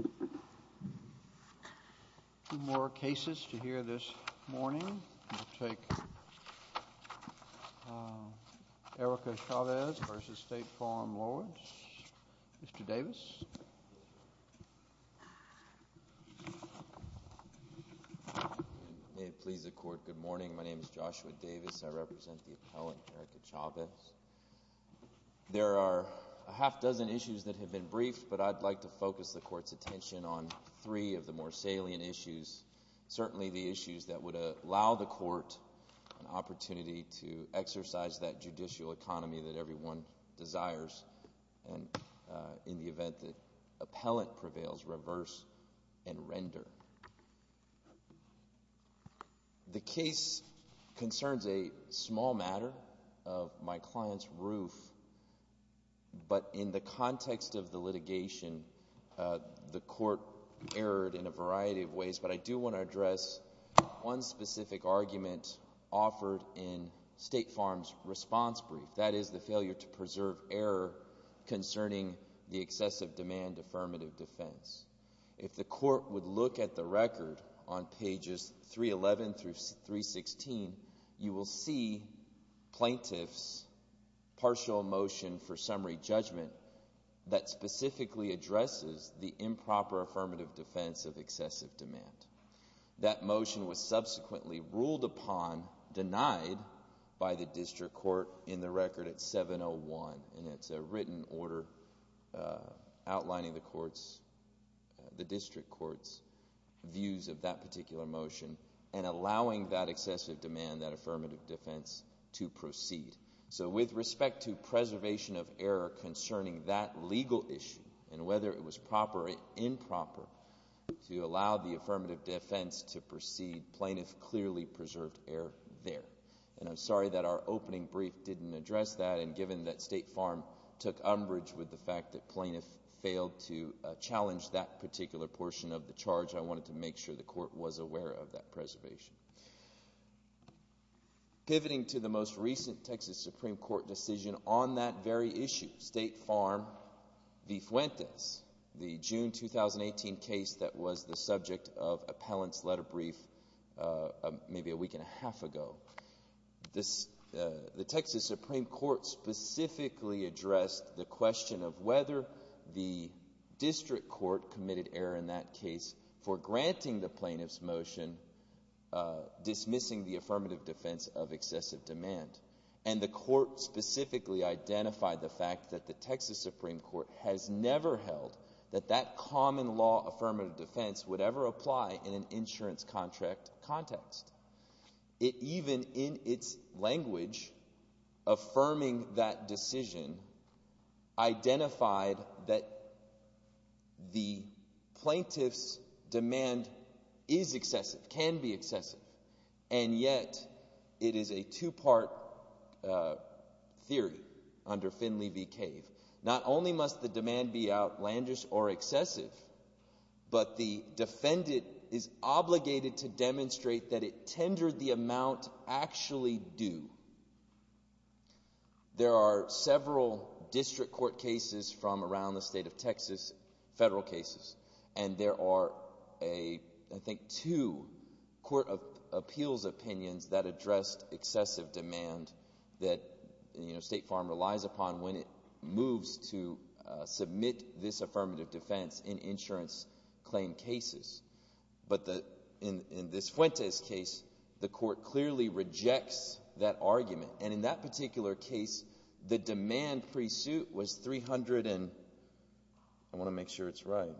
2 more cases to hear this morning. We'll take Erika Chavez v. State Farm Lloyds. Mr. Davis. May it please the Court, good morning. My name is Joshua Davis. I represent the appellant, Erika Chavez. There are a half dozen issues that have been briefed, but I'd like to focus the Court's attention on three of the more salient issues, certainly the issues that would allow the Court an opportunity to exercise that judicial economy that everyone desires in the event that my client's roof. But in the context of the litigation, the Court erred in a variety of ways, but I do want to address one specific argument offered in State Farm's response brief, that is the failure to preserve error concerning the excessive demand affirmative defense. If the Court would look at the record on pages 311 through 316, you will see plaintiff's partial motion for summary judgment that specifically addresses the improper affirmative defense of excessive demand. That motion was subsequently ruled upon, denied by the district court in the record at 701, and it's a written order outlining the district court's views of that particular motion and allowing that excessive demand, that affirmative defense, to proceed. So with respect to preservation of error concerning that legal issue and whether it was proper or improper to allow the affirmative defense to proceed, plaintiff clearly preserved error there. And I'm sorry that our opening brief didn't address that, and given that State Farm took umbrage with the fact that plaintiff failed to challenge that particular portion of the charge, I wanted to make sure the Court was aware of that preservation. Pivoting to the most recent Texas Supreme Court decision on that very issue, State Farm v. Fuentes, the June 2018 case that was the subject of appellant's letter brief maybe a week and a half ago, the Texas Supreme Court specifically addressed the question of whether the district court committed error in that case for granting the plaintiff's motion dismissing the affirmative defense of excessive demand. And the Court specifically identified the fact that the Texas Supreme Court has never held that that common law affirmative defense would ever The plaintiff's demand is excessive, can be excessive, and yet it is a two-part theory under Finley v. Cave. Not only must the demand be outlandish or excessive, but the defendant is obligated to demonstrate that it tendered the amount actually due. There are several district court cases from around the state of Texas, federal cases, and there are, I think, two court of appeals opinions that addressed excessive demand that State Farm relies upon when it moves to submit this affirmative defense in insurance claim cases. But in this Fuentes case, the Court clearly rejects that argument. And in that particular case, the demand pre-suit was 300 and I want to make sure it's right,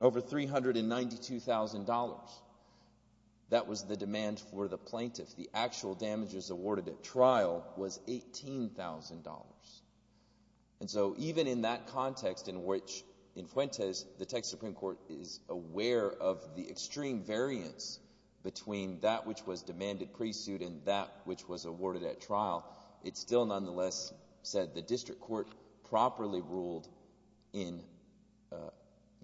over $392,000. That was the demand for the plaintiff. The actual damages awarded at trial was $18,000. And so even in that context in which, in Fuentes, the Texas Supreme Court is aware of the extreme variance between that which was demanded pre-suit and that which was awarded at trial, it still nonetheless said the district court properly ruled in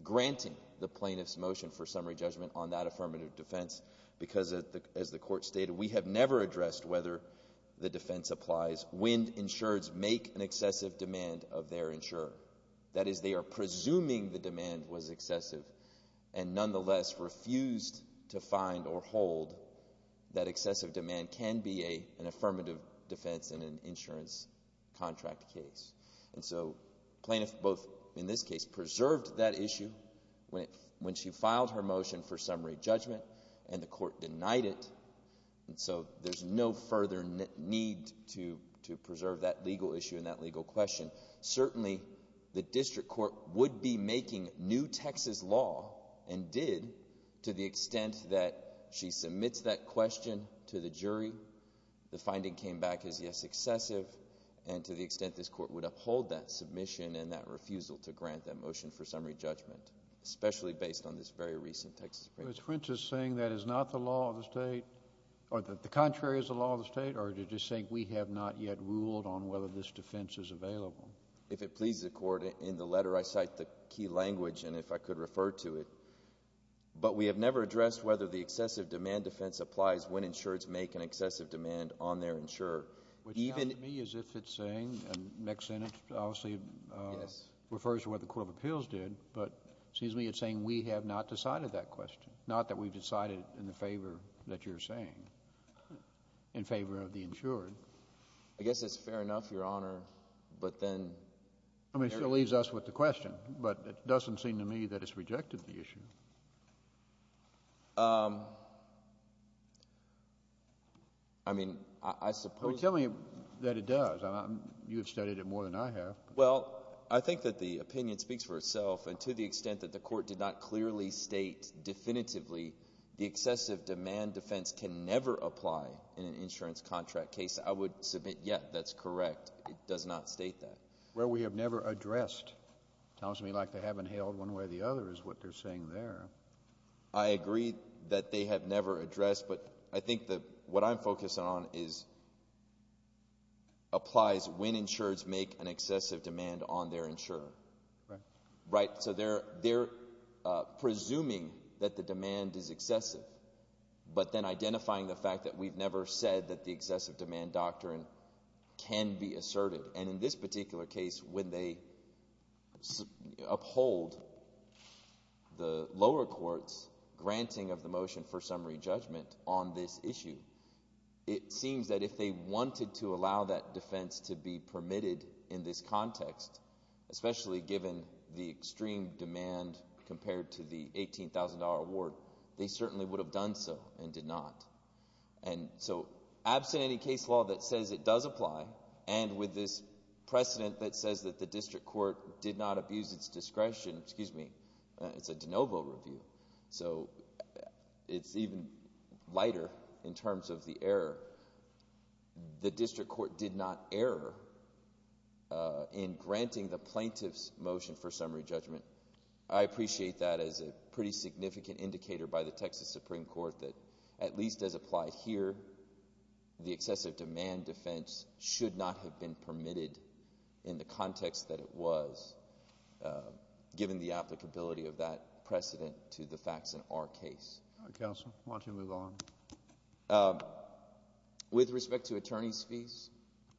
granting the plaintiff's motion for summary judgment on that affirmative defense because, as the Court stated, we have never addressed whether the defense applies when insureds make an excessive demand of their insurer. That is, they are presuming the demand was excessive and nonetheless refused to find or hold that excessive demand can be an affirmative defense in an insurance contract case. And so the plaintiff both, in this case, preserved that issue when she filed her motion for summary judgment and the Court denied it. And so there's no further need to preserve that legal issue and that legal question. Certainly, the district court would be making new Texas law and did to the extent that she submits that question to the jury. The finding came back as, yes, excessive, and to the extent this Court would uphold that submission and that refusal to grant that motion for summary judgment, especially based on this very recent Texas Supreme Court ruling. But is Fuentes saying that is not the law of the state, or that the contrary is the law of the state, or is she just saying we have not yet ruled on whether this defense is available? If it pleases the Court, in the letter I cite the key language and if I could refer to it. But we have never addressed whether the excessive demand defense applies when insureds make an excessive demand on their insurer. Which sounds to me as if it's saying, and mixed in, it obviously refers to what the Court of Appeals did, but it seems to me it's saying we have not decided that question, not that we've decided in the favor that you're saying, in favor of the insured. I guess it's fair enough, Your Honor, but then. I mean, it still leaves us with the question, but it doesn't seem to me that it's rejected the issue. I mean, I suppose. Tell me that it does. You have studied it more than I have. Well, I think that the opinion speaks for itself, and to the extent that the Court did not clearly state definitively the excessive demand defense can never apply in an insurance contract case, I would submit, yes, that's correct. But it does not state that. Well, we have never addressed. It sounds to me like they haven't held one way or the other is what they're saying there. I agree that they have never addressed, but I think that what I'm focused on is applies when insureds make an excessive demand on their insurer. Right. Right. So they're presuming that the demand is excessive, but then identifying the fact that we've never said that the excessive demand doctrine can be asserted. And in this particular case, when they uphold the lower court's granting of the motion for summary judgment on this issue, it seems that if they wanted to allow that defense to be permitted in this context, especially given the extreme demand compared to the $18,000 award, they certainly would have done so and did not. And so absent any case law that says it does apply, and with this precedent that says that the district court did not abuse its discretion, excuse me, it's a de novo review, so it's even lighter in terms of the error. The district court did not error in granting the plaintiff's motion for summary judgment. I appreciate that as a pretty significant indicator by the Texas Supreme Court that at least as applied here, the excessive demand defense should not have been permitted in the context that it was, given the applicability of that precedent to the facts in our case. Counsel, why don't you move on? With respect to attorney's fees,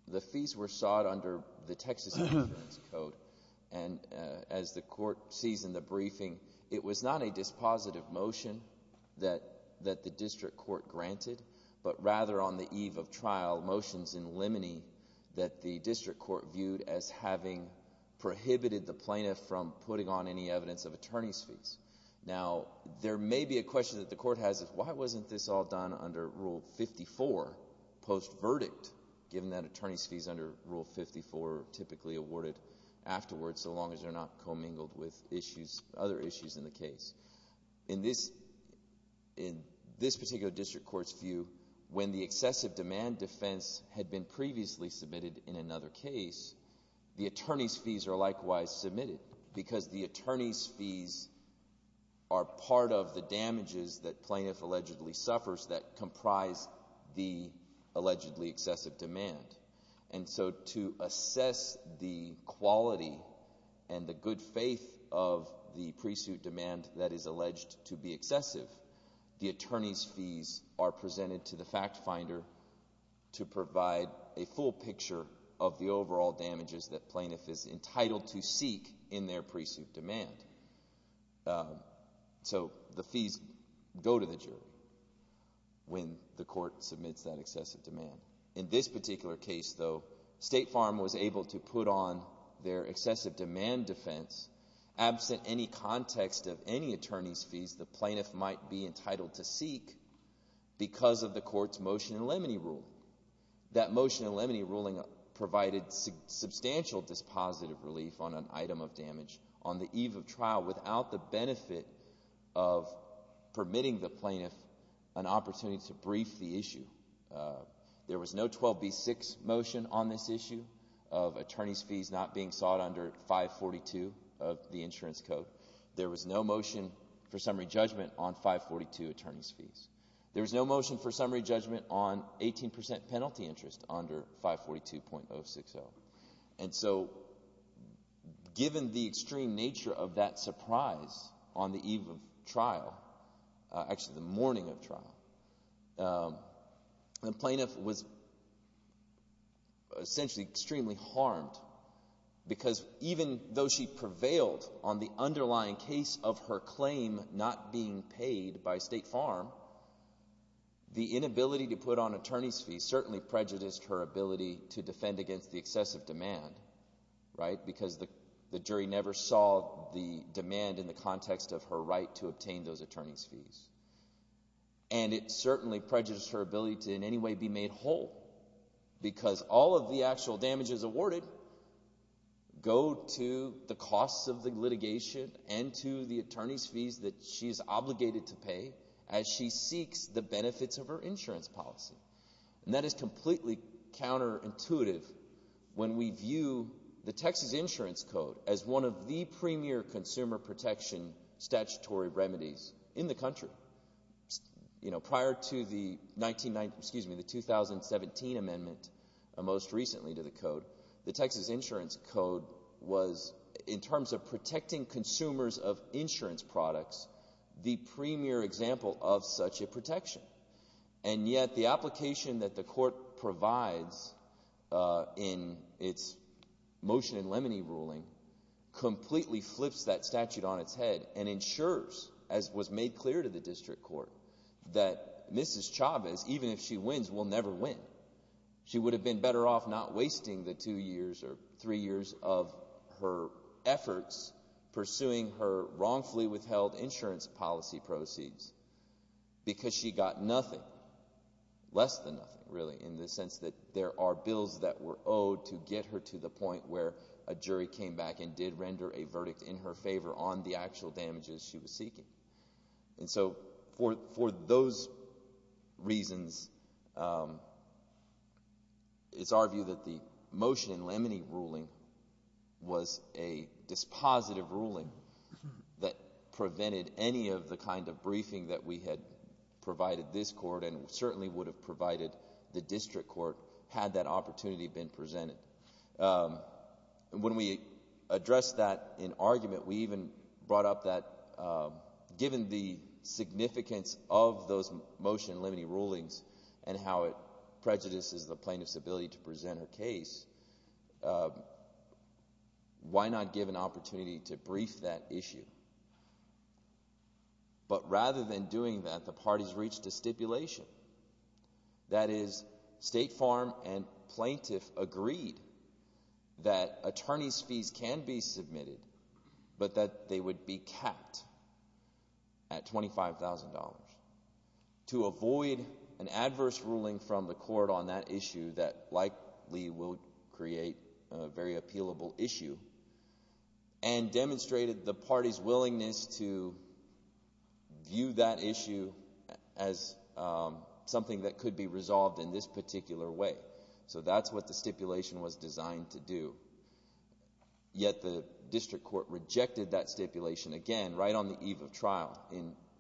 the fees were sought under the Texas Insurance Code, and as the court sees in the briefing, it was not a dispositive motion that the district court granted, but rather on the eve of trial, motions in limine that the district court viewed as having prohibited the plaintiff from putting on any evidence of attorney's fees. Now, there may be a question that the court has is why wasn't this all done under Rule 54, post-verdict, given that attorney's fees under Rule 54 are typically awarded afterwards so long as they're not commingled with issues, other issues in the case. In this particular district court's view, when the excessive demand defense had been previously submitted in another case, the attorney's fees are likewise submitted because the attorney's fees are part of the damages that plaintiff allegedly suffers that comprise the allegedly excessive demand. And so to assess the quality and the good faith of the pre-suit demand that is alleged to be excessive, the attorney's fees are presented to the fact finder to provide a full picture of the overall damages that plaintiff is entitled to seek in their pre-suit demand. So the fees go to the jury when the court submits that excessive demand. In this particular case, though, State Farm was able to put on their excessive demand defense absent any context of any attorney's fees the plaintiff might be entitled to seek because of the court's motion in limine rule. That motion in limine ruling provided substantial dispositive relief on an item of damage on the eve of trial without the benefit of permitting the plaintiff an opportunity to brief the issue. There was no 12B6 motion on this issue of attorney's fees not being sought under 542 of the insurance code. There was no motion for summary judgment on 542 attorney's fees. There was no motion for summary judgment on 18% penalty interest under 542.060. And so given the extreme nature of that surprise on the eve of trial, actually the morning of trial, the plaintiff was essentially extremely harmed because even though she prevailed on the underlying case of her claim not being paid by State Farm, the inability to put on attorney's fees certainly prejudiced her ability to defend against the excessive demand, right? Because the jury never saw the demand in the context of her right to obtain those attorney's fees. And it certainly prejudiced her ability to in any way be made whole because all of the actual damages awarded go to the costs of the litigation and to the attorney's fees that she is obligated to pay as she seeks the benefits of her insurance policy. And that is completely counterintuitive when we view the Texas Insurance Code as one of the premier consumer protection statutory remedies in the country. Prior to the 2017 amendment most recently to the code, the Texas Insurance Code was, in terms of protecting consumers of insurance products, the premier example of such a protection. And yet the application that the court provides in its Motion in Lemony ruling completely flips that statute on its head and ensures, as was made clear to the district court, that Mrs. Chavez, even if she wins, will never win. She would have been better off not wasting the two years or three years of her efforts pursuing her wrongfully withheld insurance policy proceeds because she got nothing, less than nothing really, in the sense that there are bills that were owed to get her to the point where a jury came back and did render a verdict in her favor on the actual damages she was seeking. And so for those reasons, it's our view that the Motion in Lemony ruling was a dispositive ruling that prevented any of the kind of briefing that we had provided this court and certainly would have provided the district court had that opportunity been presented. When we addressed that in argument, we even brought up that given the significance of those Motion in Lemony rulings and how it prejudices the plaintiff's ability to present her case, why not give an opportunity to brief that issue? But rather than doing that, the parties reached a stipulation. That is, State Farm and plaintiff agreed that attorney's fees can be submitted, but that they would be capped at $25,000 to avoid an adverse ruling from the court on that issue that likely will create a very appealable issue, and demonstrated the party's willingness to view that issue as something that could be resolved in this particular way. So that's what the stipulation was designed to do. Yet the district court rejected that stipulation again right on the eve of trial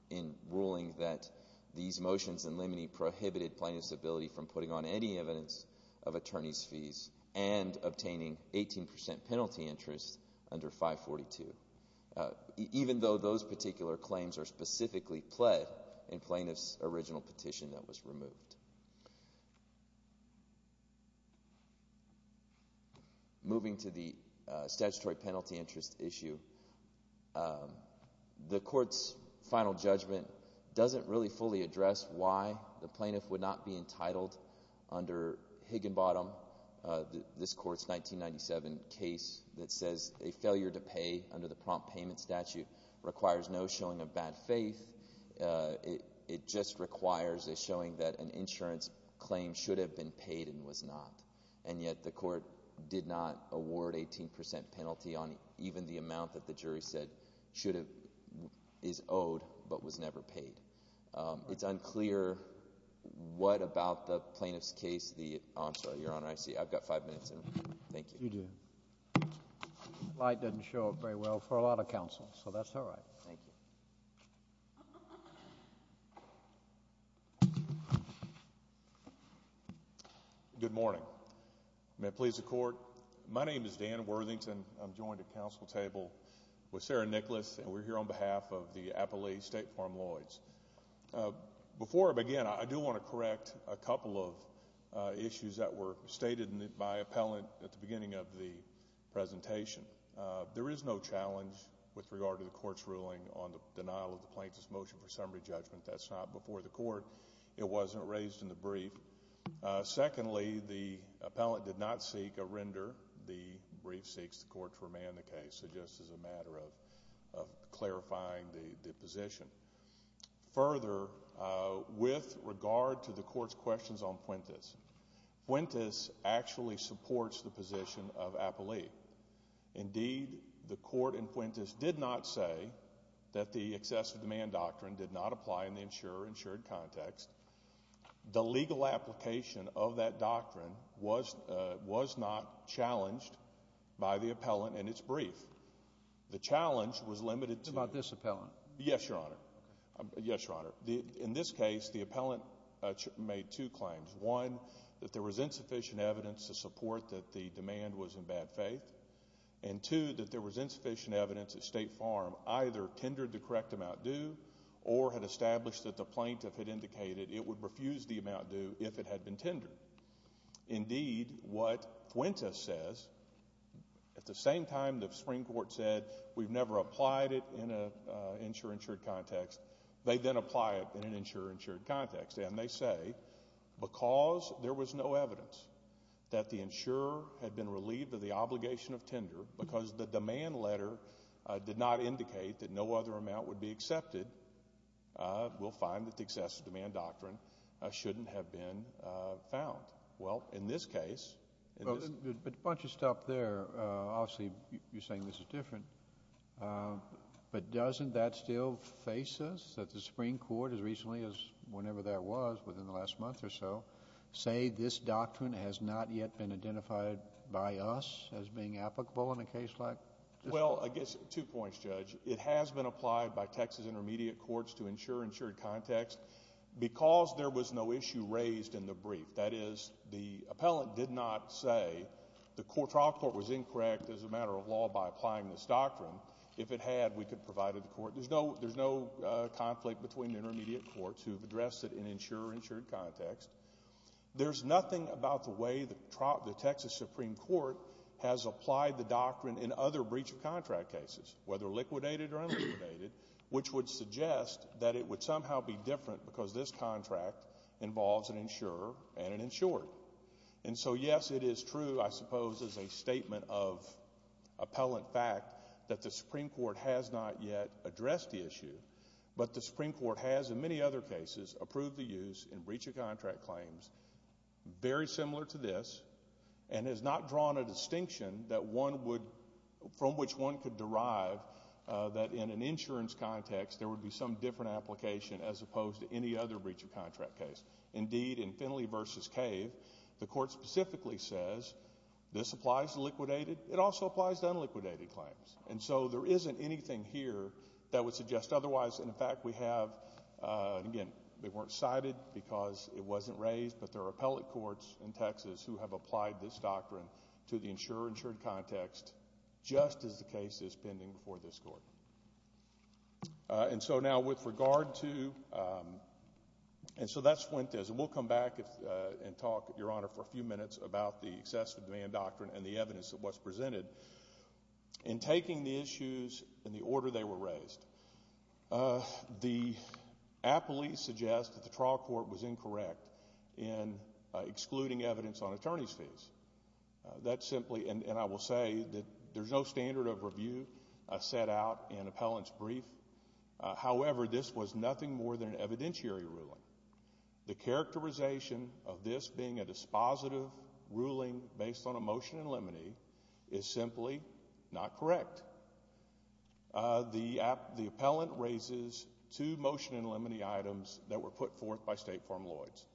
in ruling that these motions in Lemony prohibited plaintiff's ability from putting on any evidence of attorney's fees and obtaining 18% penalty interest under 542, even though those particular claims are specifically pled in plaintiff's original petition that was removed. Moving to the statutory penalty interest issue, the court's final judgment doesn't really fully address why the plaintiff would not be entitled under Higginbottom, this court's 1997 case, that says a failure to pay under the prompt payment statute requires no showing of bad faith. It just requires a showing that an insurance claim should have been paid and was not. And yet the court did not award 18% penalty on even the amount that the jury said is owed but was never paid. It's unclear what about the plaintiff's case the—I'm sorry, Your Honor, I see I've got five minutes. Thank you. You do. The slide doesn't show up very well for a lot of counsel, so that's all right. Thank you. Good morning. May it please the court, my name is Dan Worthington. I'm joined at counsel table with Sarah Nicklaus, and we're here on behalf of the Appalachia State Farm Lloyds. Before I begin, I do want to correct a couple of issues that were stated by appellant at the beginning of the presentation. There is no challenge with regard to the court's ruling on the denial of the plaintiff's motion for summary judgment. That's not before the court. It wasn't raised in the brief. Secondly, the appellant did not seek a render. The brief seeks the court to remand the case, so just as a matter of clarifying the position. Further, with regard to the court's questions on Puentes, Puentes actually supports the position of Appalach. Indeed, the court in Puentes did not say that the excessive demand doctrine did not apply in the insured context. The legal application of that doctrine was not challenged by the appellant in its brief. The challenge was limited to— What about this appellant? Yes, Your Honor. Yes, Your Honor. In this case, the appellant made two claims. One, that there was insufficient evidence to support that the demand was in bad faith, and two, that there was insufficient evidence that State Farm either tendered the correct amount due or had established that the plaintiff had indicated it would refuse the amount due if it had been tendered. Indeed, what Puentes says, at the same time the Supreme Court said we've never applied it in an insure-insured context, they then apply it in an insure-insured context, and they say because there was no evidence that the insurer had been relieved of the obligation of tender because the demand letter did not indicate that no other amount would be accepted, we'll find that the excessive demand doctrine shouldn't have been found. Well, in this case— But a bunch of stuff there. Obviously, you're saying this is different, but doesn't that still face us, that the Supreme Court as recently as whenever that was, within the last month or so, say this doctrine has not yet been identified by us as being applicable in a case like this one? Well, I guess two points, Judge. It has been applied by Texas intermediate courts to insure-insured context because there was no issue raised in the brief. That is, the appellant did not say the trial court was incorrect as a matter of law by applying this doctrine. There's no conflict between intermediate courts who've addressed it in insure-insured context. There's nothing about the way the Texas Supreme Court has applied the doctrine in other breach of contract cases, whether liquidated or unliquidated, which would suggest that it would somehow be different because this contract involves an insurer and an insured. And so, yes, it is true, I suppose, as a statement of appellant fact that the Supreme Court has not yet addressed the issue, but the Supreme Court has in many other cases approved the use in breach of contract claims very similar to this and has not drawn a distinction from which one could derive that in an insurance context there would be some different application as opposed to any other breach of contract case. Indeed, in Finley v. Cave, the court specifically says this applies to liquidated. It also applies to unliquidated claims. And so there isn't anything here that would suggest otherwise. And, in fact, we have, again, they weren't cited because it wasn't raised, but there are appellate courts in Texas who have applied this doctrine to the insure-insured context just as the case is pending before this Court. And so now with regard to—and so that's Fuentes. And we'll come back and talk, Your Honor, for a few minutes about the excessive demand doctrine and the evidence of what's presented. In taking the issues and the order they were raised, the appellees suggest that the trial court was incorrect in excluding evidence on attorney's fees. That's simply—and I will say that there's no standard of review set out in appellant's brief. However, this was nothing more than an evidentiary ruling. The characterization of this being a dispositive ruling based on a motion in limine is simply not correct. The appellant raises two motion in limine items that were put forth by State Farm Lloyds,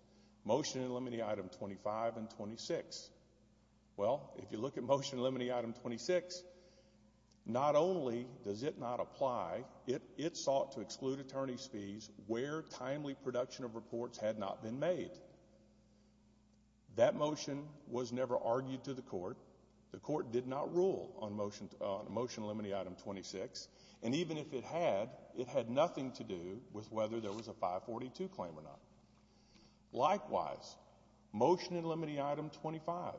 motion in limine item 25 and 26. Well, if you look at motion in limine item 26, not only does it not apply, it sought to exclude attorney's fees where timely production of reports had not been made. That motion was never argued to the court. The court did not rule on motion in limine item 26. And even if it had, it had nothing to do with whether there was a 542 claim or not. Likewise, motion in limine item 25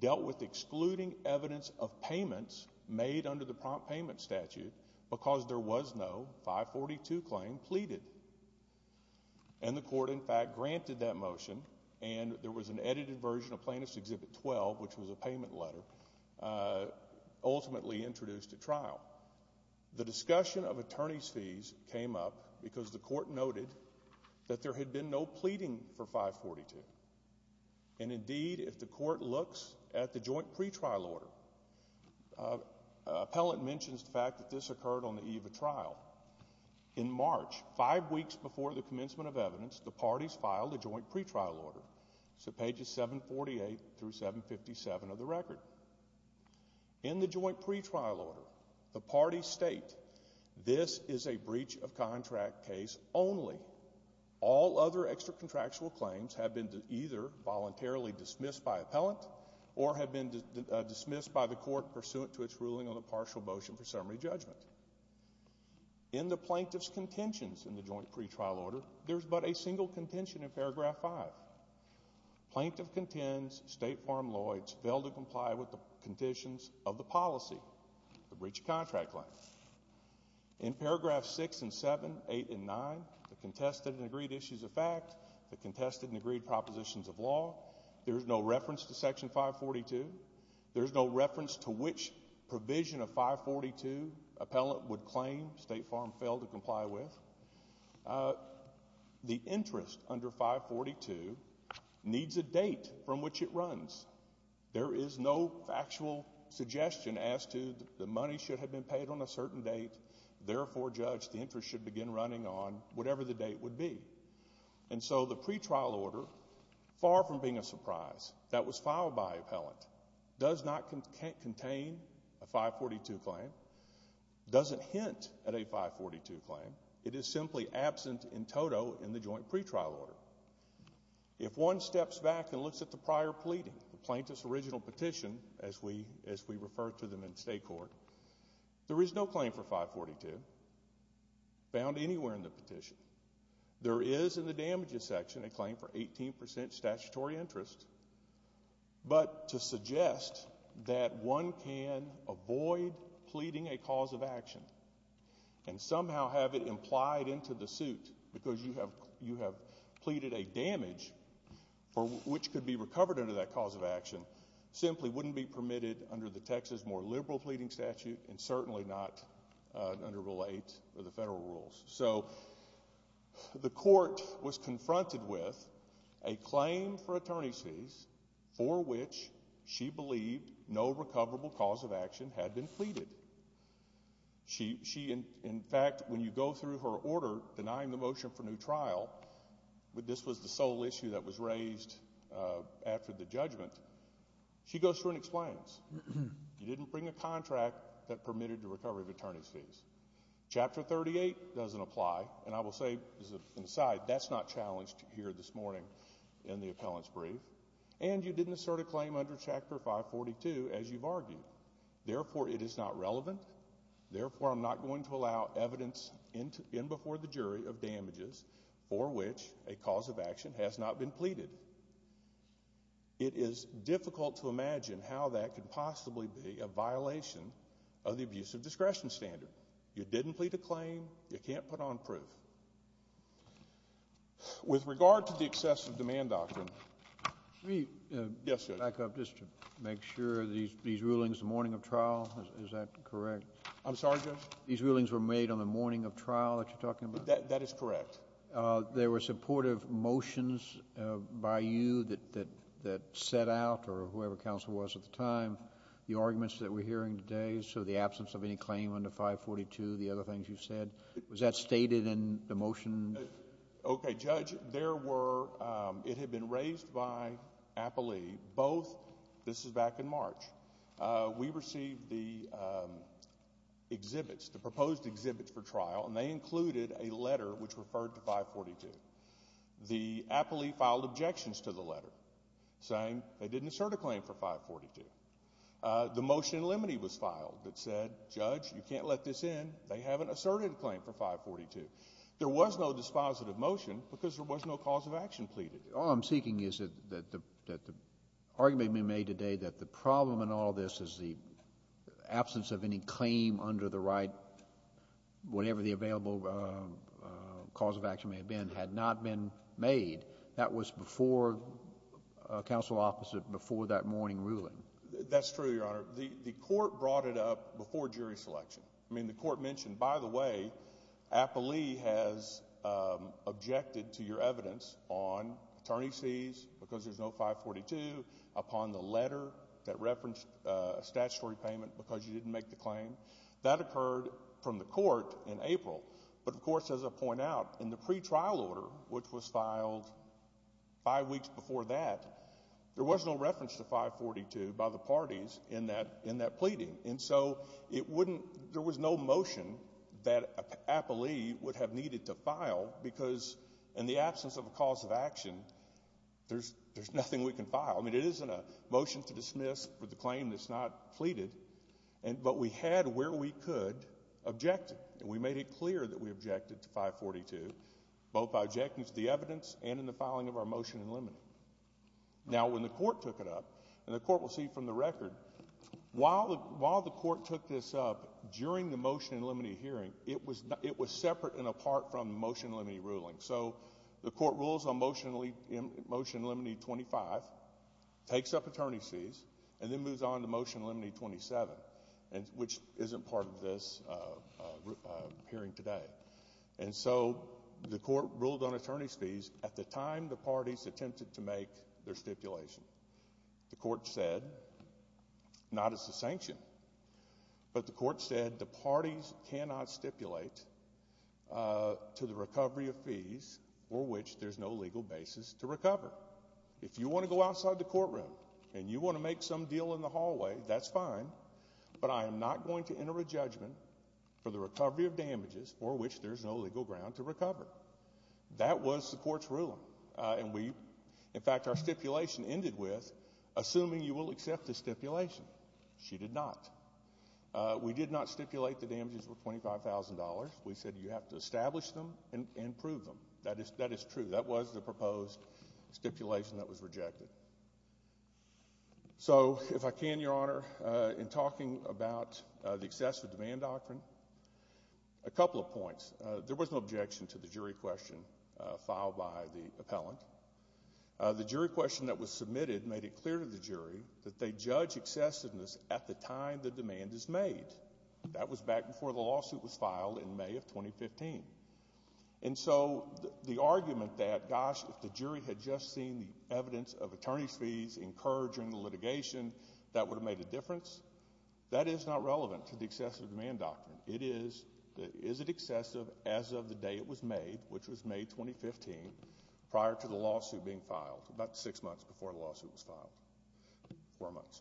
dealt with excluding evidence of payments made under the prompt payment statute because there was no 542 claim pleaded. And the court, in fact, granted that motion, and there was an edited version of Plaintiff's Exhibit 12, which was a payment letter, ultimately introduced at trial. The discussion of attorney's fees came up because the court noted that there had been no pleading for 542. And indeed, if the court looks at the joint pretrial order, appellant mentions the fact that this occurred on the eve of trial. In March, five weeks before the commencement of evidence, the parties filed a joint pretrial order. So pages 748 through 757 of the record. In the joint pretrial order, the parties state, this is a breach of contract case only. All other extra-contractual claims have been either voluntarily dismissed by appellant or have been dismissed by the court pursuant to its ruling on the partial motion for summary judgment. In the plaintiff's contentions in the joint pretrial order, there is but a single contention in paragraph 5. Plaintiff contends State Farm Lloyds failed to comply with the conditions of the policy, the breach of contract claim. In paragraph 6 and 7, 8 and 9, the contested and agreed issues of fact, the contested and agreed propositions of law, there is no reference to Section 542. There is no reference to which provision of 542 appellant would claim State Farm failed to comply with. The interest under 542 needs a date from which it runs. There is no factual suggestion as to the money should have been paid on a certain date. Therefore, judge, the interest should begin running on whatever the date would be. And so the pretrial order, far from being a surprise, that was filed by appellant, does not contain a 542 claim, doesn't hint at a 542 claim. It is simply absent in toto in the joint pretrial order. If one steps back and looks at the prior pleading, the plaintiff's original petition, as we refer to them in state court, there is no claim for 542 found anywhere in the petition. There is in the damages section a claim for 18% statutory interest, but to suggest that one can avoid pleading a cause of action and somehow have it implied into the suit because you have pleaded a damage for which could be recovered under that cause of action simply wouldn't be permitted under the Texas more liberal pleading statute and certainly not under Rule 8 of the federal rules. So the court was confronted with a claim for attorney's fees for which she believed no recoverable cause of action had been pleaded. She, in fact, when you go through her order denying the motion for new trial, this was the sole issue that was raised after the judgment, she goes through and explains. You didn't bring a contract that permitted the recovery of attorney's fees. Chapter 38 doesn't apply, and I will say as an aside, that's not challenged here this morning in the appellant's brief, and you didn't assert a claim under Chapter 542 as you've argued. Therefore, it is not relevant. Therefore, I'm not going to allow evidence in before the jury of damages for which a cause of action has not been pleaded. It is difficult to imagine how that could possibly be a violation of the abusive discretion standard. You didn't plead a claim. You can't put on proof. With regard to the excessive demand doctrine, Let me back up just to make sure. These rulings, the morning of trial, is that correct? I'm sorry, Judge? These rulings were made on the morning of trial that you're talking about? That is correct. There were supportive motions by you that set out, or whoever counsel was at the time, the arguments that we're hearing today, so the absence of any claim under 542, the other things you've said. Was that stated in the motion? Okay, Judge. It had been raised by Appley. This is back in March. We received the exhibits, the proposed exhibits for trial, and they included a letter which referred to 542. The Appley filed objections to the letter, saying they didn't assert a claim for 542. The motion in limine was filed that said, Judge, you can't let this in. They haven't asserted a claim for 542. There was no dispositive motion because there was no cause of action pleaded. All I'm seeking is that the argument made today that the problem in all this is the absence of any claim under the right, whatever the available cause of action may have been, had not been made. That was before counsel opposite, before that morning ruling. That's true, Your Honor. The court brought it up before jury selection. I mean, the court mentioned, by the way, Appley has objected to your evidence on attorney's fees because there's no 542, upon the letter that referenced a statutory payment because you didn't make the claim. That occurred from the court in April. But, of course, as I point out, in the pretrial order, which was filed five weeks before that, there was no reference to 542 by the parties in that pleading. And so it wouldn't, there was no motion that Appley would have needed to file because in the absence of a cause of action, there's nothing we can file. I mean, it isn't a motion to dismiss for the claim that's not pleaded. But we had where we could object to it, and we made it clear that we objected to 542, both by objecting to the evidence and in the filing of our motion in limine. Now, when the court took it up, and the court will see from the record, while the court took this up during the motion in limine hearing, it was separate and apart from the motion in limine ruling. So the court rules on motion in limine 25, takes up attorney's fees, and then moves on to motion in limine 27, which isn't part of this hearing today. And so the court ruled on attorney's fees at the time the parties attempted to make their stipulation. The court said, not as a sanction, but the court said the parties cannot stipulate to the recovery of fees for which there's no legal basis to recover. If you want to go outside the courtroom and you want to make some deal in the hallway, that's fine, but I am not going to enter a judgment for the recovery of damages for which there's no legal ground to recover. That was the court's ruling. In fact, our stipulation ended with, assuming you will accept the stipulation. She did not. We did not stipulate the damages were $25,000. We said you have to establish them and prove them. That is true. That was the proposed stipulation that was rejected. So if I can, Your Honor, in talking about the excessive demand doctrine, a couple of points. There was no objection to the jury question filed by the appellant. The jury question that was submitted made it clear to the jury that they judge excessiveness at the time the demand is made. That was back before the lawsuit was filed in May of 2015. And so the argument that, gosh, if the jury had just seen the evidence of attorney's fees incurred during the litigation, that would have made a difference, that is not relevant to the excessive demand doctrine. It is, is it excessive as of the day it was made, which was May 2015, prior to the lawsuit being filed, about six months before the lawsuit was filed, four months.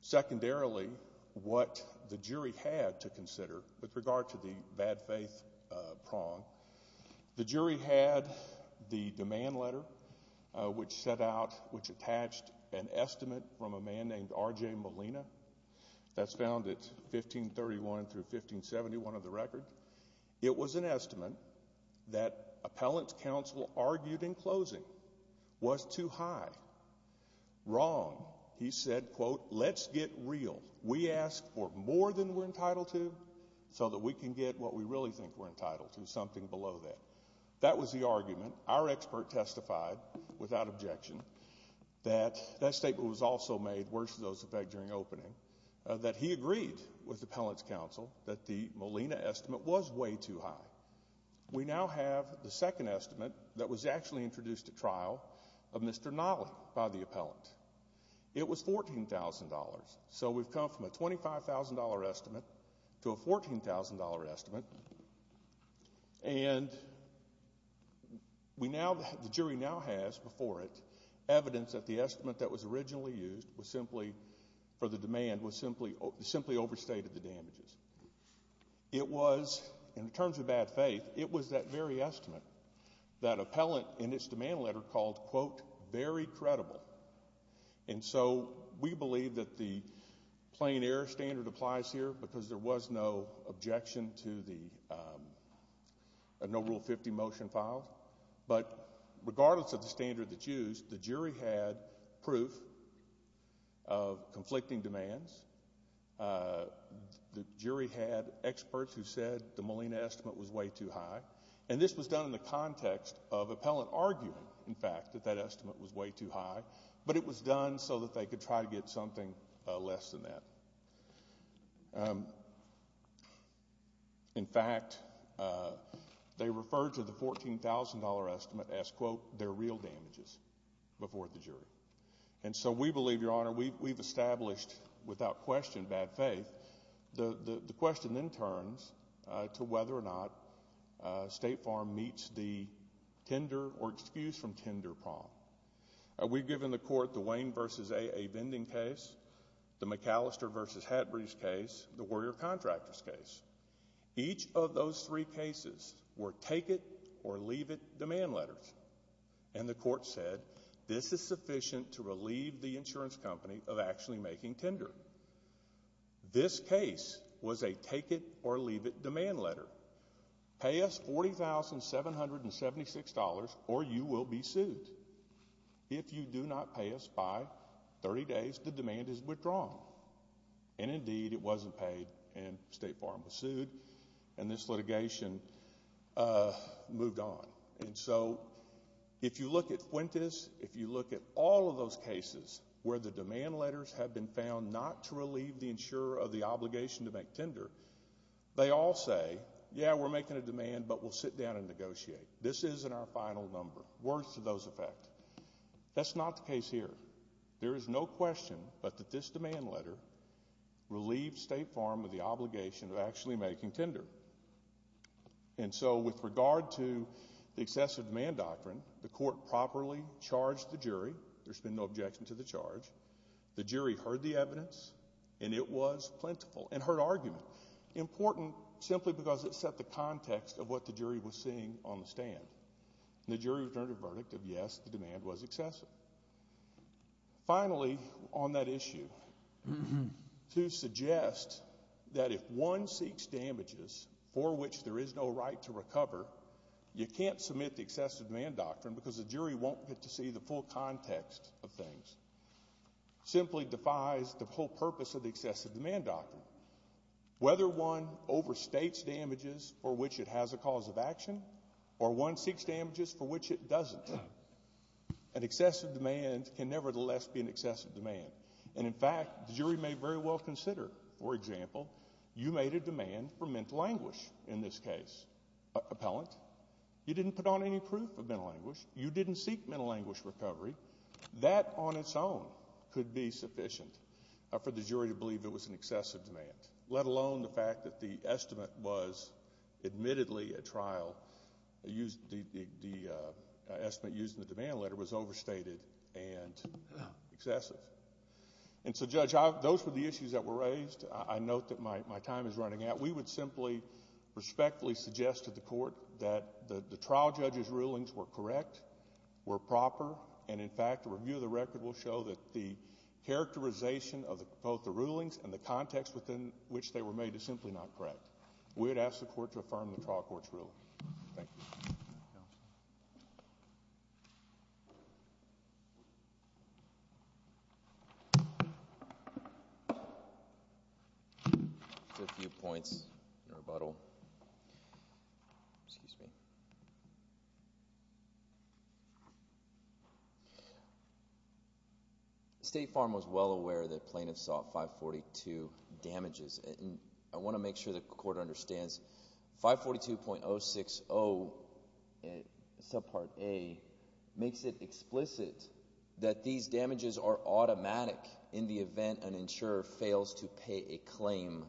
Secondarily, what the jury had to consider with regard to the bad faith prong, the jury had the demand letter which set out, which attached an estimate from a man named R.J. Molina. That's found at 1531 through 1571 of the record. It was an estimate that appellant's counsel argued in closing was too high, wrong. He said, quote, let's get real. We ask for more than we're entitled to so that we can get what we really think we're entitled to, something below that. That was the argument. Our expert testified without objection that that statement was also made worse than those effect during opening, that he agreed with appellant's counsel that the Molina estimate was way too high. We now have the second estimate that was actually introduced at trial of Mr. Nolley by the appellant. It was $14,000. So we've come from a $25,000 estimate to a $14,000 estimate. And we now, the jury now has before it evidence that the estimate that was originally used was simply, for the demand was simply overstated the damages. It was, in terms of bad faith, it was that very estimate that appellant in its demand letter called, quote, very credible. And so we believe that the plain error standard applies here because there was no objection to the No Rule 50 motion filed. But regardless of the standard that's used, the jury had proof of conflicting demands. The jury had experts who said the Molina estimate was way too high. And this was done in the context of appellant arguing, in fact, that that estimate was way too high. But it was done so that they could try to get something less than that. In fact, they referred to the $14,000 estimate as, quote, their real damages before the jury. And so we believe, Your Honor, we've established without question bad faith. The question then turns to whether or not State Farm meets the tender or excuse from tender prompt. We've given the court the Wayne versus AA vending case, the McAllister versus Hatbridge case, the Warrior Contractors case. Each of those three cases were take-it-or-leave-it demand letters. And the court said this is sufficient to relieve the insurance company of actually making tender. This case was a take-it-or-leave-it demand letter. Pay us $40,776 or you will be sued. If you do not pay us by 30 days, the demand is withdrawn. And indeed, it wasn't paid, and State Farm was sued, and this litigation moved on. And so if you look at Fuentes, if you look at all of those cases where the demand letters have been found not to relieve the insurer of the obligation to make tender, they all say, yeah, we're making a demand, but we'll sit down and negotiate. This isn't our final number. Words to those effect. That's not the case here. There is no question but that this demand letter relieved State Farm of the obligation of actually making tender. And so with regard to the excessive demand doctrine, the court properly charged the jury. There's been no objection to the charge. The jury heard the evidence, and it was plentiful and heard argument, important simply because it set the context of what the jury was seeing on the stand. And the jury returned a verdict of yes, the demand was excessive. Finally, on that issue, to suggest that if one seeks damages for which there is no right to recover, you can't submit the excessive demand doctrine because the jury won't get to see the full context of things simply defies the whole purpose of the excessive demand doctrine. Whether one overstates damages for which it has a cause of action or one seeks damages for which it doesn't, an excessive demand can nevertheless be an excessive demand. And, in fact, the jury may very well consider, for example, you made a demand for mental anguish in this case, appellant. You didn't put on any proof of mental anguish. You didn't seek mental anguish recovery. That on its own could be sufficient for the jury to believe it was an excessive demand, let alone the fact that the estimate was admittedly a trial. The estimate used in the demand letter was overstated and excessive. And so, Judge, those were the issues that were raised. I note that my time is running out. We would simply respectfully suggest to the Court that the trial judge's rulings were correct, were proper, and, in fact, a review of the record will show that the characterization of both the rulings and the context within which they were made is simply not correct. We would ask the Court to affirm the trial court's ruling. Thank you. A few points in rebuttal. State Farm was well aware that plaintiffs sought 542 damages. I want to make sure the Court understands 542.060, subpart A, makes it explicit that these damages are automatic in the event an insurer fails to pay a claim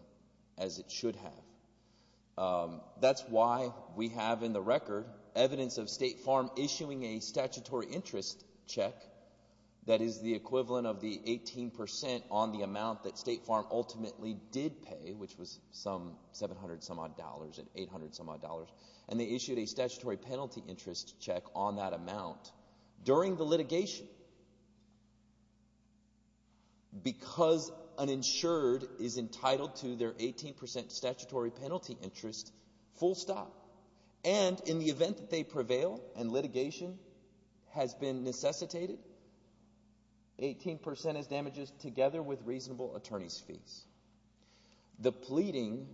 as it should have. That's why we have in the record evidence of State Farm issuing a statutory interest check that is the equivalent of the 18 percent on the amount that State Farm ultimately did pay, which was some 700-some-odd dollars and 800-some-odd dollars, and they issued a statutory penalty interest check on that amount during the litigation because an insured is entitled to their 18 percent statutory penalty interest full stop. And in the event that they prevail and litigation has been necessitated, 18 percent is damages together with reasonable attorney's fees. The pleading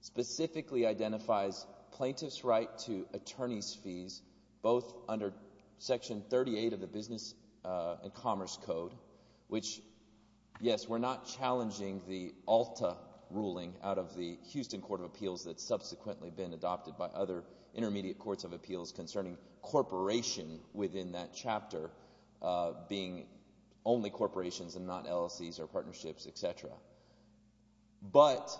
specifically identifies plaintiff's right to attorney's fees, both under Section 38 of the Business and Commerce Code, which, yes, we're not challenging the ALTA ruling out of the Houston Court of Appeals that's subsequently been adopted by other intermediate courts of appeals concerning corporation within that chapter being only corporations and not LLCs or partnerships, etc. But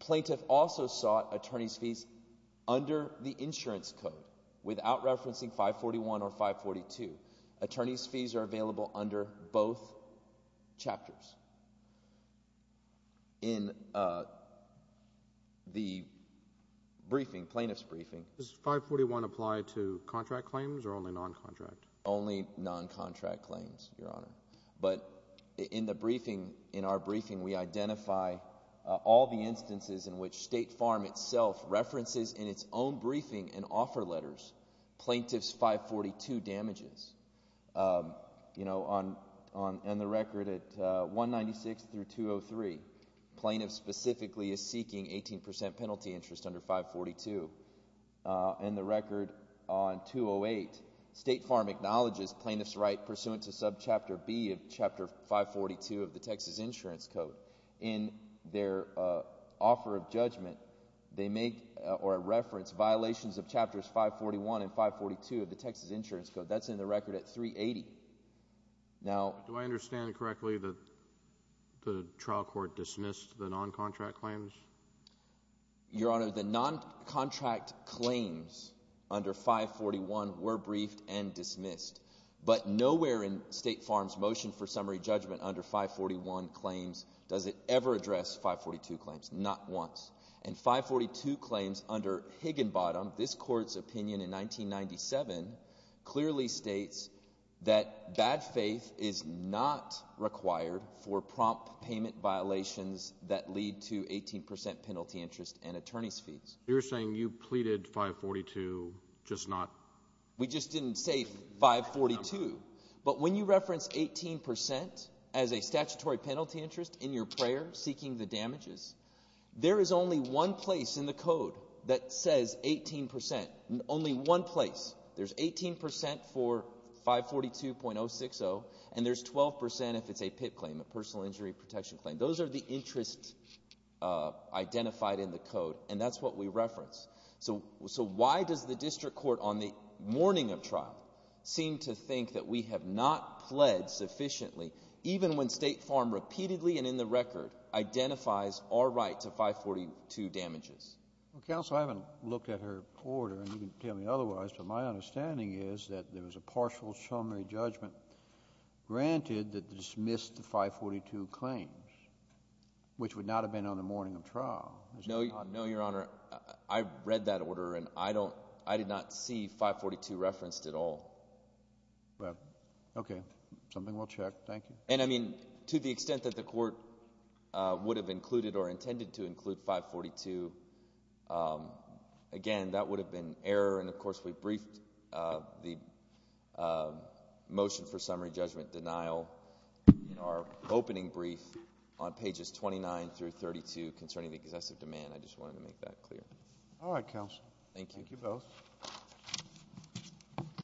plaintiff also sought attorney's fees under the insurance code without referencing 541 or 542. Attorney's fees are available under both chapters. In the briefing, plaintiff's briefing— Does 541 apply to contract claims or only non-contract? Only non-contract claims, Your Honor. But in the briefing, in our briefing, we identify all the instances in which State Farm itself references in its own briefing and offer letters plaintiff's 542 damages. In the record at 196 through 203, plaintiff specifically is seeking 18 percent penalty interest under 542. In the record on 208, State Farm acknowledges plaintiff's right pursuant to subchapter B of chapter 542 of the Texas Insurance Code. In their offer of judgment, they make or reference violations of chapters 541 and 542 of the Texas Insurance Code. That's in the record at 380. Now— Do I understand correctly that the trial court dismissed the non-contract claims? Your Honor, the non-contract claims under 541 were briefed and dismissed. But nowhere in State Farm's motion for summary judgment under 541 claims does it ever address 542 claims, not once. And 542 claims under Higginbottom, this court's opinion in 1997, clearly states that bad faith is not required for prompt payment violations that lead to 18 percent penalty interest and attorney's fees. You're saying you pleaded 542, just not— We just didn't say 542. But when you reference 18 percent as a statutory penalty interest in your prayer seeking the damages, there is only one place in the code that says 18 percent. Only one place. There's 18 percent for 542.060, and there's 12 percent if it's a PIP claim, a personal injury protection claim. Those are the interests identified in the code, and that's what we reference. So why does the district court on the morning of trial seem to think that we have not pled sufficiently, even when State Farm repeatedly and in the record identifies our right to 542 damages? Counsel, I haven't looked at her order, and you can tell me otherwise, but my understanding is that there was a partial summary judgment granted that dismissed the 542 claims, which would not have been on the morning of trial. No, Your Honor. I read that order, and I did not see 542 referenced at all. Okay. Something we'll check. Thank you. And, I mean, to the extent that the court would have included or intended to include 542, again, that would have been error. And, of course, we briefed the motion for summary judgment denial in our opening brief on pages 29 through 32 concerning the excessive demand. I just wanted to make that clear. All right, Counsel. Thank you. Thank you both.